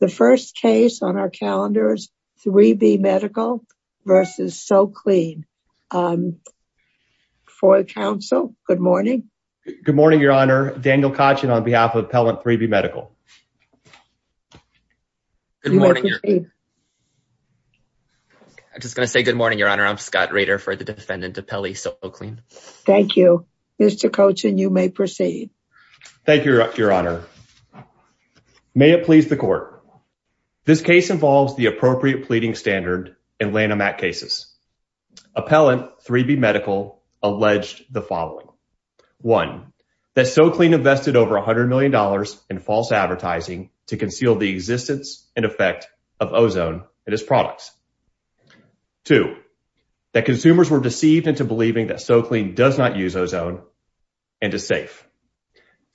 The first case on our calendar is 3B Medical v. SoClean. For the Council, good morning. Good morning, Your Honor. Daniel Kochin on behalf of Appellant 3B Medical. You may proceed. I'm just going to say good morning, Your Honor. I'm Scott Rader for the defendant, Appellee SoClean. Thank you, Mr. Kochin. You may proceed. Thank you, Your Honor. Your Honor, may it please the Court. This case involves the appropriate pleading standard in Lanham Act cases. Appellant 3B Medical alleged the following. One, that SoClean invested over $100 million in false advertising to conceal the existence and effect of ozone in its products. Two, that consumers were deceived into believing that SoClean does not use ozone and is safe.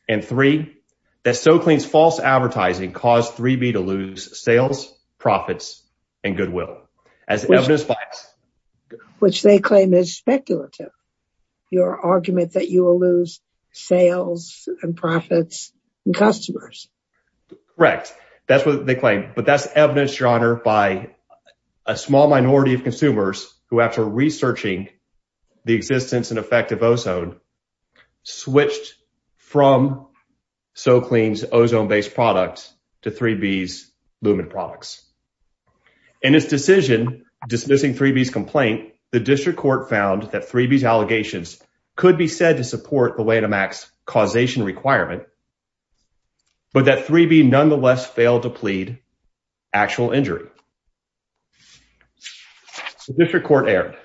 And three, that SoClean's false advertising caused 3B to lose sales, profits, and goodwill. Which they claim is speculative. Your argument that you will lose sales and profits and customers. Correct. That's what they claim, but that's evidence, Your Honor, by a small minority of consumers who, after researching the existence and effect of ozone, switched from SoClean's ozone-based products to 3B's lumen products. In his decision dismissing 3B's complaint, the district court found that 3B's allegations could be said to support the Lanham Act's causation requirement, but that 3B nonetheless failed to plead actual injury. The district court erred.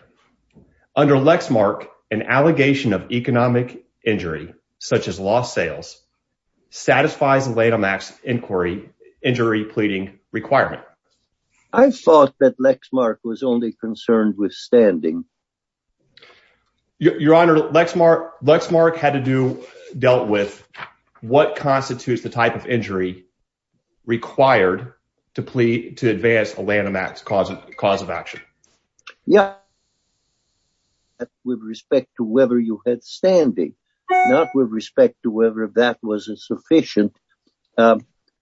Under Lexmark, an allegation of economic injury, such as lost sales, satisfies the Lanham Act's inquiry injury pleading requirement. I thought that Lexmark was only concerned with standing. Your Honor, Lexmark had to do, dealt with what constitutes the type of injury required to plead to advance a Lanham Act's cause of action. Yeah, with respect to whether you had standing, not with respect to whether that was a sufficient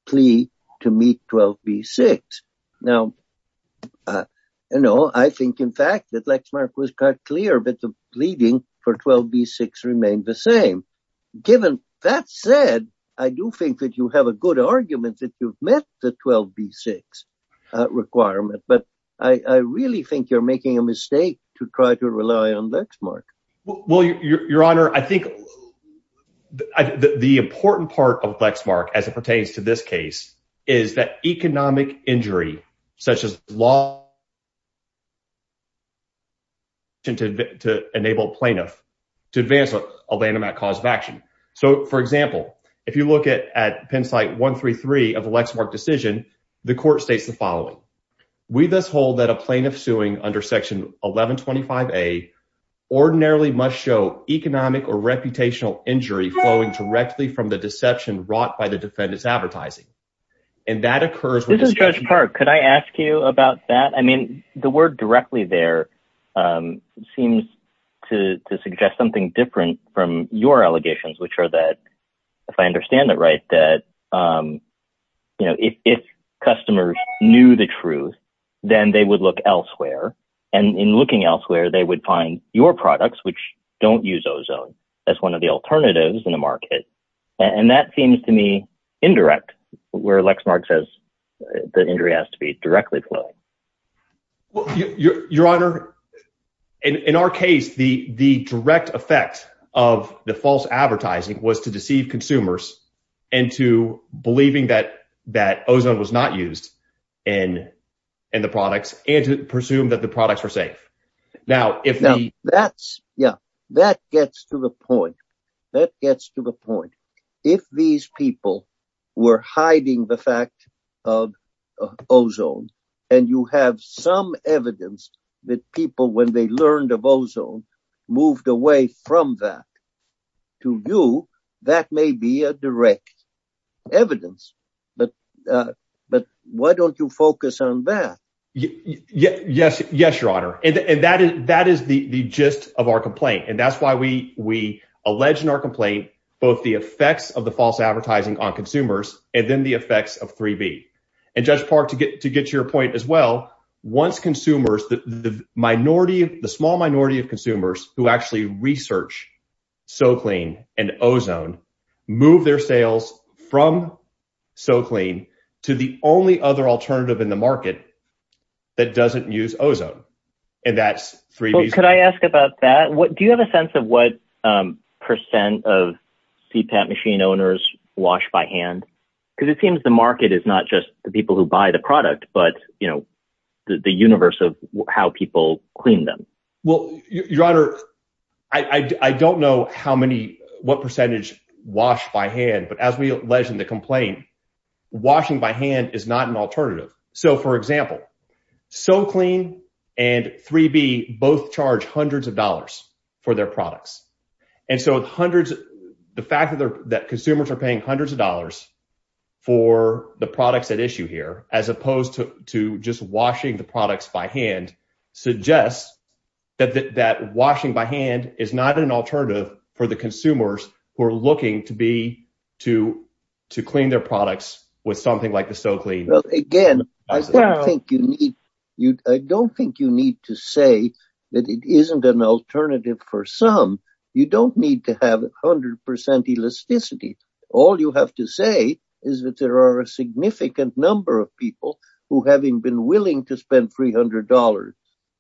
plea to meet 12b-6. Now, you know, I think in fact that Lexmark was quite clear that the pleading for 12b-6 remained the same. Given that said, I do think that you have a good argument that you've met the 12b-6 requirement, but I really think you're making a mistake to try to rely on Lexmark. Well, Your Honor, I think the important part of Lexmark, as it pertains to this case, is that economic injury, such as lost... to enable plaintiff to advance a Lanham Act cause of action. So, for example, if you look at Penn site 133 of the Lexmark decision, the court states the following. We thus hold that a plaintiff suing under section 1125a ordinarily must show economic or reputational injury flowing directly from the deception wrought by the defendant's advertising. And that occurs... This is Judge Park. Could I ask you about that? The word directly there seems to suggest something different from your allegations, which are that, if I understand it right, that if customers knew the truth, then they would look elsewhere. And in looking elsewhere, they would find your products, which don't use ozone, as one of the alternatives in the market. And that seems to me indirect, where Lexmark says the injury has to be directly flowing. Well, your honor, in our case, the direct effect of the false advertising was to deceive consumers into believing that ozone was not used in the products and to presume that the products were safe. Now, if we... Yeah, that gets to the point. That gets to the point. If these people were hiding the fact of ozone, and you have some evidence that people, when they learned of ozone, moved away from that, to you, that may be a direct evidence. But why don't you focus on that? Yes, your honor. And that is the gist of our complaint. And that's why we allege in our complaint, both the effects of the false advertising on consumers, and then the effects of 3B. And Judge Park, to get to your point as well, once consumers, the minority, the small minority of consumers who actually research SoClean and ozone, move their sales from SoClean to the only other alternative in the market that doesn't use ozone. And that's 3B. Could I ask about that? Do you have a sense of what percent of CPAP machine owners wash by hand? Because it seems the market is not just the people who buy the product, but the universe of how people clean them. Well, your honor, I don't know what percentage wash by hand. But as we allege in the complaint, washing by hand is not an alternative. So, for example, SoClean and 3B both charge hundreds of dollars. For their products. And so the fact that consumers are paying hundreds of dollars for the products at issue here, as opposed to just washing the products by hand, suggests that washing by hand is not an alternative for the consumers who are looking to clean their products with something like the SoClean. Again, I don't think you need to say that it isn't an alternative for some. You don't need to have 100% elasticity. All you have to say is that there are a significant number of people who, having been willing to spend $300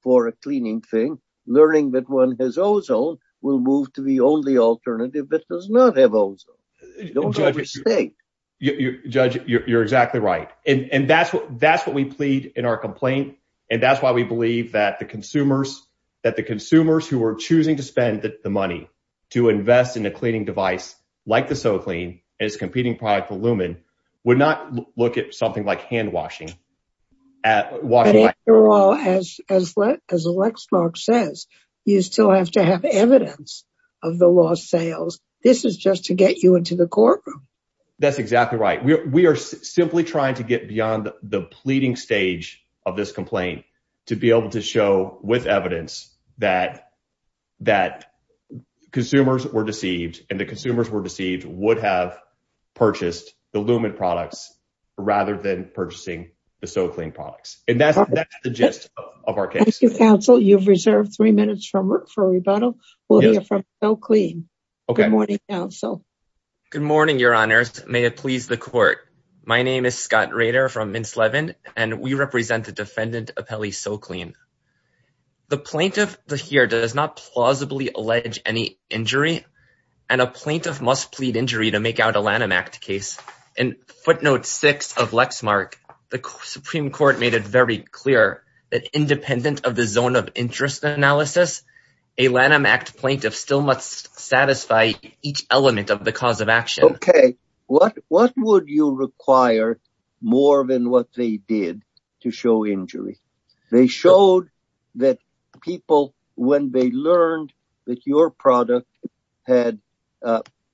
for a cleaning thing, learning that one has ozone, will move to the only alternative that does not have ozone. Judge, you're exactly right. That's what we plead in our complaint. And that's why we believe that the consumers who are choosing to spend the money to invest in a cleaning device like the SoClean and its competing product, the Lumen, would not look at something like handwashing. As Lexmark says, you still have to have evidence of the lost sales. This is just to get you into the courtroom. That's exactly right. We are simply trying to get beyond the pleading stage of this complaint to be able to show with evidence that consumers were deceived, and the consumers were deceived would have purchased the Lumen products rather than purchasing the SoClean products. And that's the gist of our case. Thank you, counsel. You've reserved three minutes for rebuttal. We'll hear from SoClean. Okay. Good morning, counsel. Good morning, Your Honors. May it please the court. My name is Scott Rader from Mintz Levin, and we represent the defendant, Apelli SoClean. The plaintiff here does not plausibly allege any injury, and a plaintiff must plead injury to make out a Lanham Act case. In footnote six of Lexmark, the Supreme Court made it very clear that independent of the zone of interest analysis, a Lanham Act plaintiff still must satisfy each element of the cause of action. What would you require more than what they did to show injury? They showed that people, when they learned that your product had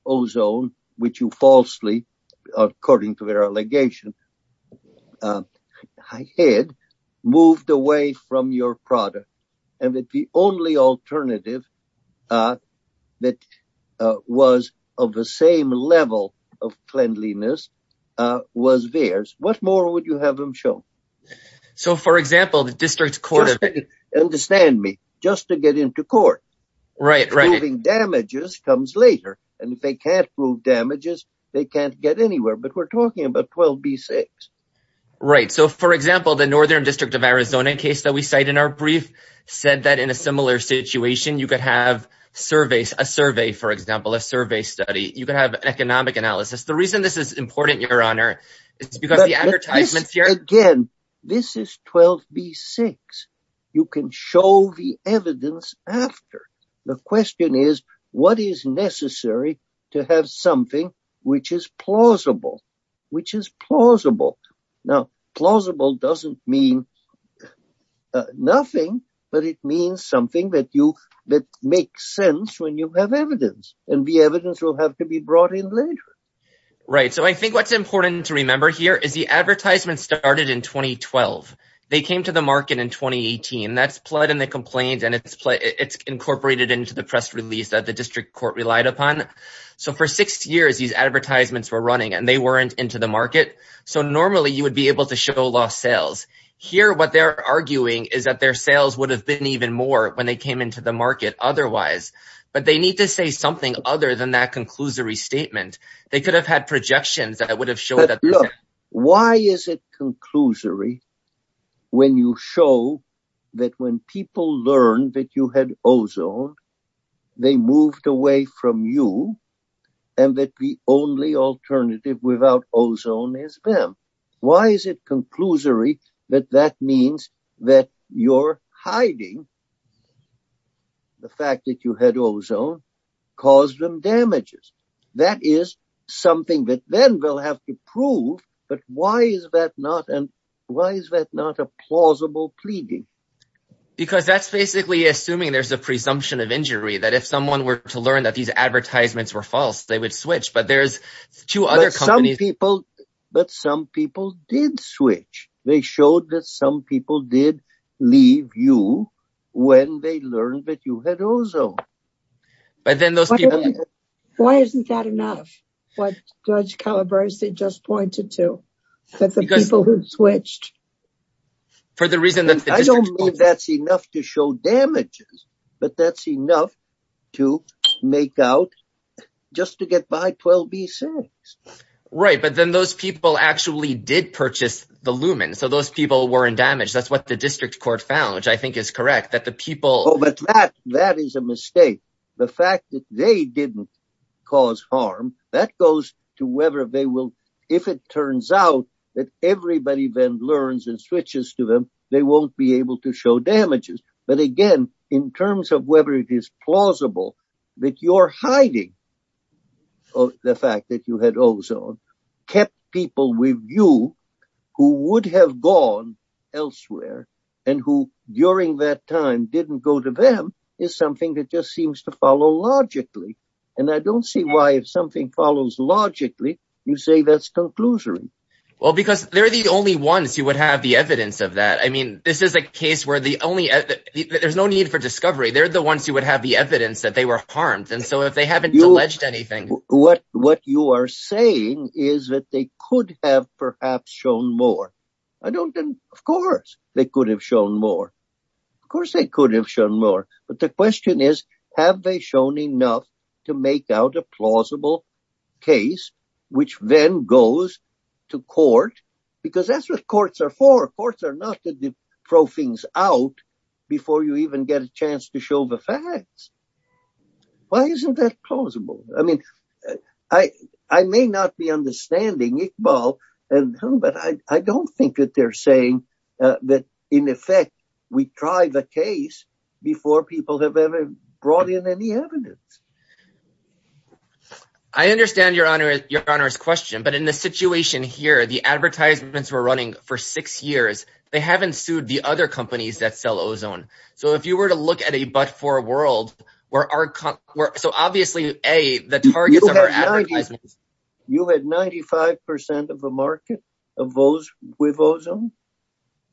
ozone, which you falsely, according to their allegation, had moved away from your product, and that the only alternative that was of the same level of cleanliness was theirs. What more would you have them show? So, for example, the district court... Understand me. Just to get into court. Right, right. Proving damages comes later. And if they can't prove damages, they can't get anywhere. But we're talking about 12B6. Right. So, for example, the Northern District of Arizona case that we cite in our brief, said that in a similar situation, you could have a survey, for example, a survey study. You could have economic analysis. The reason this is important, Your Honor, is because the advertisements here... Again, this is 12B6. You can show the evidence after. The question is, what is necessary to have something which is plausible? Which is plausible. Now, plausible doesn't mean nothing. But it means something that makes sense when you have evidence. And the evidence will have to be brought in later. Right. So, I think what's important to remember here is the advertisement started in 2012. They came to the market in 2018. That's pled in the complaint. And it's incorporated into the press release that the district court relied upon. So, for six years, these advertisements were running. And they weren't into the market. So, normally, you would be able to show lost sales. Here, what they're arguing is that their sales would have been even more when they came into the market otherwise. But they need to say something other than that conclusory statement. They could have had projections that would have shown... But look, why is it conclusory when you show that when people learned that you had ozone, they moved away from you? And that the only alternative without ozone is them? Why is it conclusory that that means that you're hiding the fact that you had ozone caused them damages? That is something that then they'll have to prove. But why is that not a plausible pleading? Because that's basically assuming there's a presumption of injury. That if someone were to learn that these advertisements were false, they would switch. But there's two other companies... But some people did switch. They showed that some people did leave you when they learned that you had ozone. But then those people... Why isn't that enough? What Judge Calabrese just pointed to, that the people who switched... For the reason that... I don't think that's enough to show damages. But that's enough to make out just to get by 12b6. Right. But then those people actually did purchase the lumen. So those people were in damage. That's what the district court found, which I think is correct. That the people... But that is a mistake. The fact that they didn't cause harm, that goes to whether they will... They won't be able to show damages. But again, in terms of whether it is plausible that you're hiding the fact that you had ozone, kept people with you who would have gone elsewhere, and who during that time didn't go to them, is something that just seems to follow logically. And I don't see why if something follows logically, you say that's conclusory. Well, because they're the only ones who would have the evidence of that. I mean, this is a case where there's no need for discovery. They're the ones who would have the evidence that they were harmed. And so if they haven't alleged anything... What you are saying is that they could have perhaps shown more. I don't think... Of course, they could have shown more. Of course, they could have shown more. But the question is, have they shown enough to make out a plausible case, which then goes to court? Because that's what courts are for. Courts are not to throw things out before you even get a chance to show the facts. Why isn't that plausible? I mean, I may not be understanding Iqbal, but I don't think that they're saying that in effect, we try the case before people have ever brought in any evidence. I understand your Honor's question. But in the situation here, the advertisements were running for six years. They haven't sued the other companies that sell ozone. So if you were to look at a but-for world, where our company... So obviously, A, the targets of our advertisements... You had 95% of the market of those with ozone?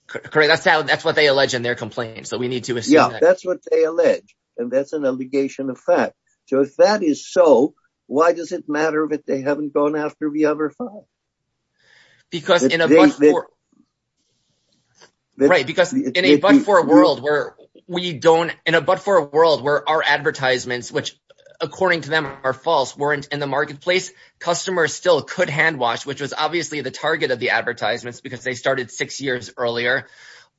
Correct, that's what they allege in their complaint. So we need to assume that. Yeah, that's what they allege. And that's an allegation of fact. So if that is so, why does it matter that they haven't gone after the other five? Because in a but-for world, where our advertisements, which according to them are false, weren't in the marketplace, customers still could hand wash, which was obviously the target of the advertisements, because they started six years earlier.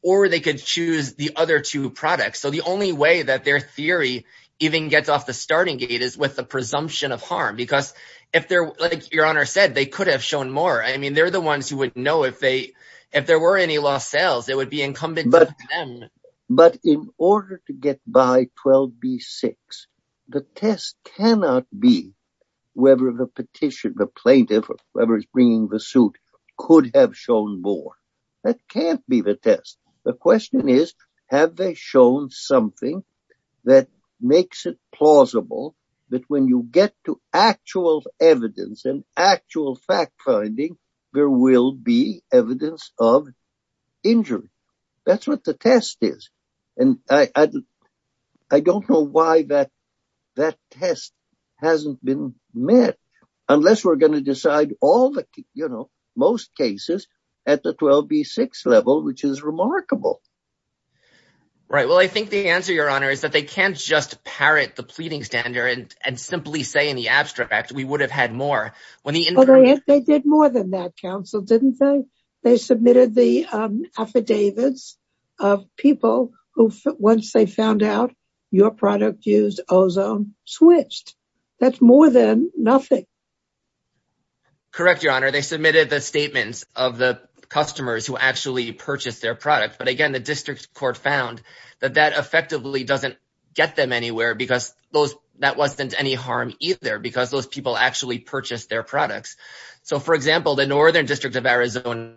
Or they could choose the other two products. So the only way that their theory even gets off the starting gate is with the presumption of harm. Because if they're... Like your Honor said, they could have shown more. I mean, they're the ones who would know if they... If there were any lost sales, it would be incumbent on them. But in order to get by 12b-6, the test cannot be whether the petition, the plaintiff, whoever is bringing the suit, could have shown more. That can't be the test. The question is, have they shown something that makes it plausible that when you get to actual evidence and actual fact-finding, there will be evidence of injury? That's what the test is. And I don't know why that test hasn't been met, unless we're going to decide all the, you know, most cases at the 12b-6 level, which is remarkable. Right. Well, I think the answer, Your Honor, is that they can't just parrot the pleading standard and simply say in the abstract, we would have had more. Well, they did more than that, Counsel, didn't they? They submitted the affidavits of people who, once they found out your product used ozone, switched. That's more than nothing. Correct, Your Honor. They submitted the statements of the customers who actually purchased their product. But again, the district court found that that effectively doesn't get them anywhere because that wasn't any harm either, because those people actually purchased their products. So, for example, the Northern District of Arizona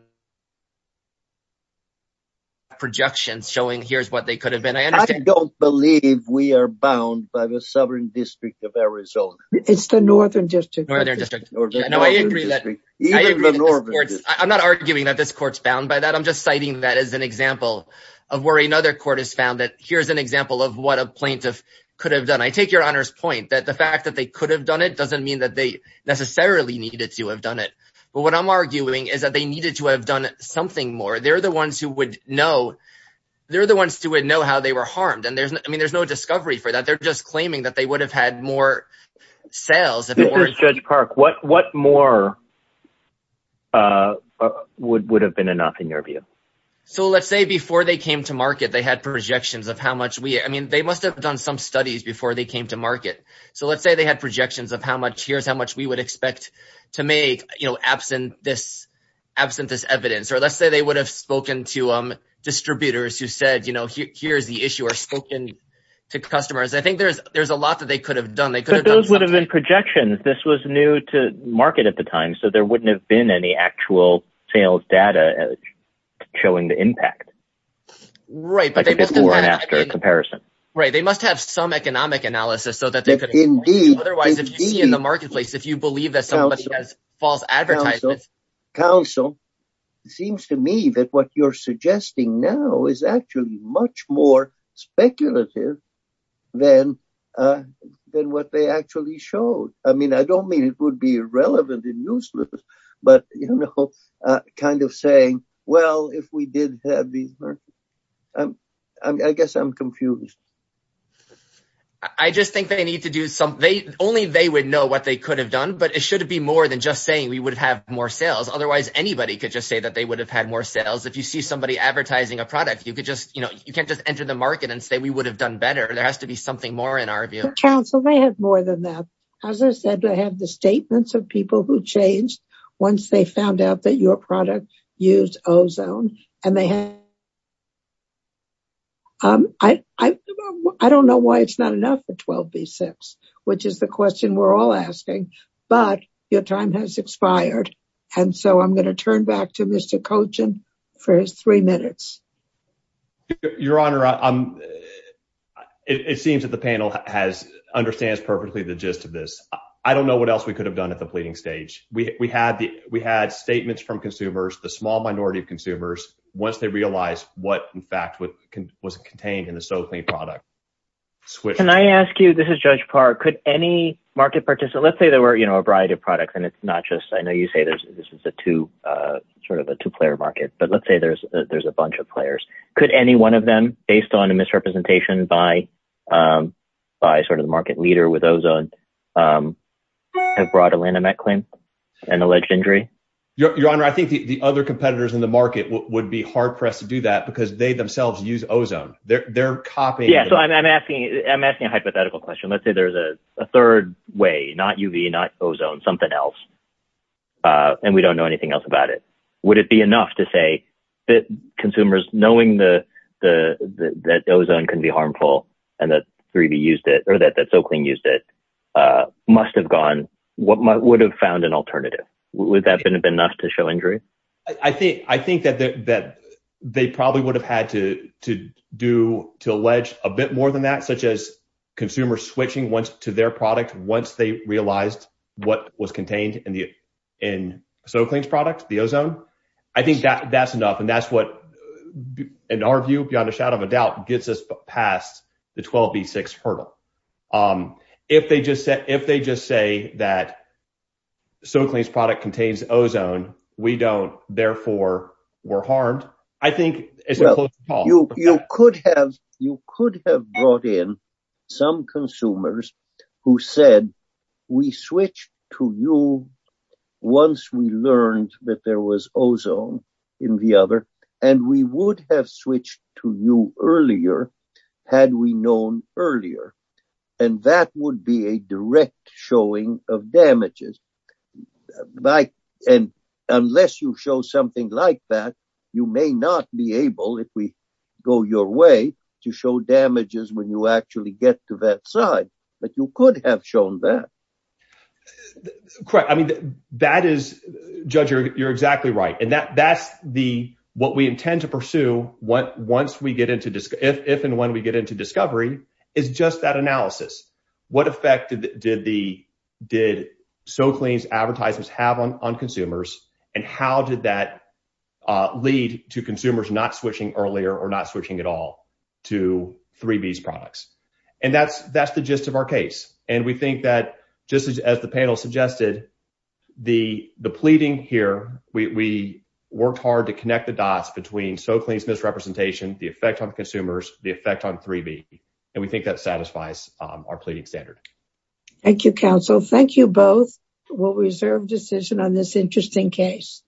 projections showing here's what they could have been. I don't believe we are bound by the Southern District of Arizona. It's the Northern District. Northern District. I agree. I'm not arguing that this court's bound by that. I'm just citing that as an example of where another court has found that here's an example of what a plaintiff could have done. I take Your Honor's point that the fact that they could have done it doesn't mean that they necessarily needed to have done it. But what I'm arguing is that they needed to have done something more. They're the ones who would know. They're the ones who would know how they were harmed. And I mean, there's no discovery for that. They're just claiming that they would have had more sales. Judge Park, what more would have been enough in your view? So let's say before they came to market, they had projections of how much we, I mean, they must have done some studies before they came to market. So let's say they had projections of how much, here's how much we would expect to make, you know, absent this evidence. Or let's say they would have spoken to distributors who said, you know, here's the issue or spoken to customers. I think there's a lot that they could have done. Those would have been projections. This was new to market at the time. So there wouldn't have been any actual sales data showing the impact. Right. Right. They must have some economic analysis. Otherwise, if you see in the marketplace, if you believe that somebody has false advertisements. Counsel, it seems to me that what you're suggesting now is actually much more speculative than what they actually showed. I mean, I don't mean it would be irrelevant and useless, but, you know, kind of saying, well, if we did have these, I guess I'm confused. I just think they need to do something. Only they would know what they could have done, but it should be more than just saying we would have more sales. Otherwise, anybody could just say that they would have had more sales. If you see somebody advertising a product, you could just, you know, you can't just enter the market and say, we would have done better. There has to be something more in our view. Counsel, they have more than that. As I said, I have the statements of people who changed once they found out that your product used ozone and they had. I don't know why it's not enough for 12B6, which is the question we're all asking, but your time has expired. And so I'm going to turn back to Mr. Colchin for his three minutes. Your Honor, it seems that the panel understands perfectly the gist of this. I don't know what else we could have done at the pleading stage. We had statements from consumers, the small minority of consumers, once they realized what in fact was contained in the SoClean product. Can I ask you, this is Judge Parr, could any market participant, let's say there were a variety of products and it's not just, I know you say this is sort of a two-player market, but let's say there's a bunch of players. Could any one of them, based on a misrepresentation by sort of the market leader with ozone, have brought a landmark claim, an alleged injury? Your Honor, I think the other competitors in the market would be hard-pressed to do that because they themselves use ozone. I'm asking a hypothetical question. Let's say there's a third way, not UV, not ozone, something else. And we don't know anything else about it. Would it be enough to say that consumers, knowing that ozone can be harmful and that SoClean used it, must have gone, would have found an alternative? Would that have been enough to show injury? I think that they probably would have had to do, to allege a bit more than that, such as consumers switching to their product once they realized what was contained in SoClean's product, the ozone. I think that's enough. And that's what, in our view, beyond a shadow of a doubt, gets us past the 12B6 hurdle. If they just say that SoClean's product contains ozone, we don't, therefore, we're harmed. I think it's a close call. You could have brought in some consumers who said, we switched to you once we learned that there was ozone in the other, and we would have switched to you earlier had we known earlier. And that would be a direct showing of damages. And unless you show something like that, you may not be able, if we go your way, to show damages when you actually get to that side. But you could have shown that. Correct. I mean, that is, Judge, you're exactly right. And that's what we intend to pursue once we get into, if and when we get into discovery, is just that analysis. What effect did SoClean's advertisements have on consumers? And how did that lead to consumers not switching earlier or not switching at all to 3B's products? And that's the gist of our case. And we think that, just as the panel suggested, the pleading here, we worked hard to connect the dots between SoClean's misrepresentation, the effect on consumers, the effect on 3B. And we think that satisfies our pleading standard. Thank you, counsel. Thank you both. We'll reserve decision on this interesting case.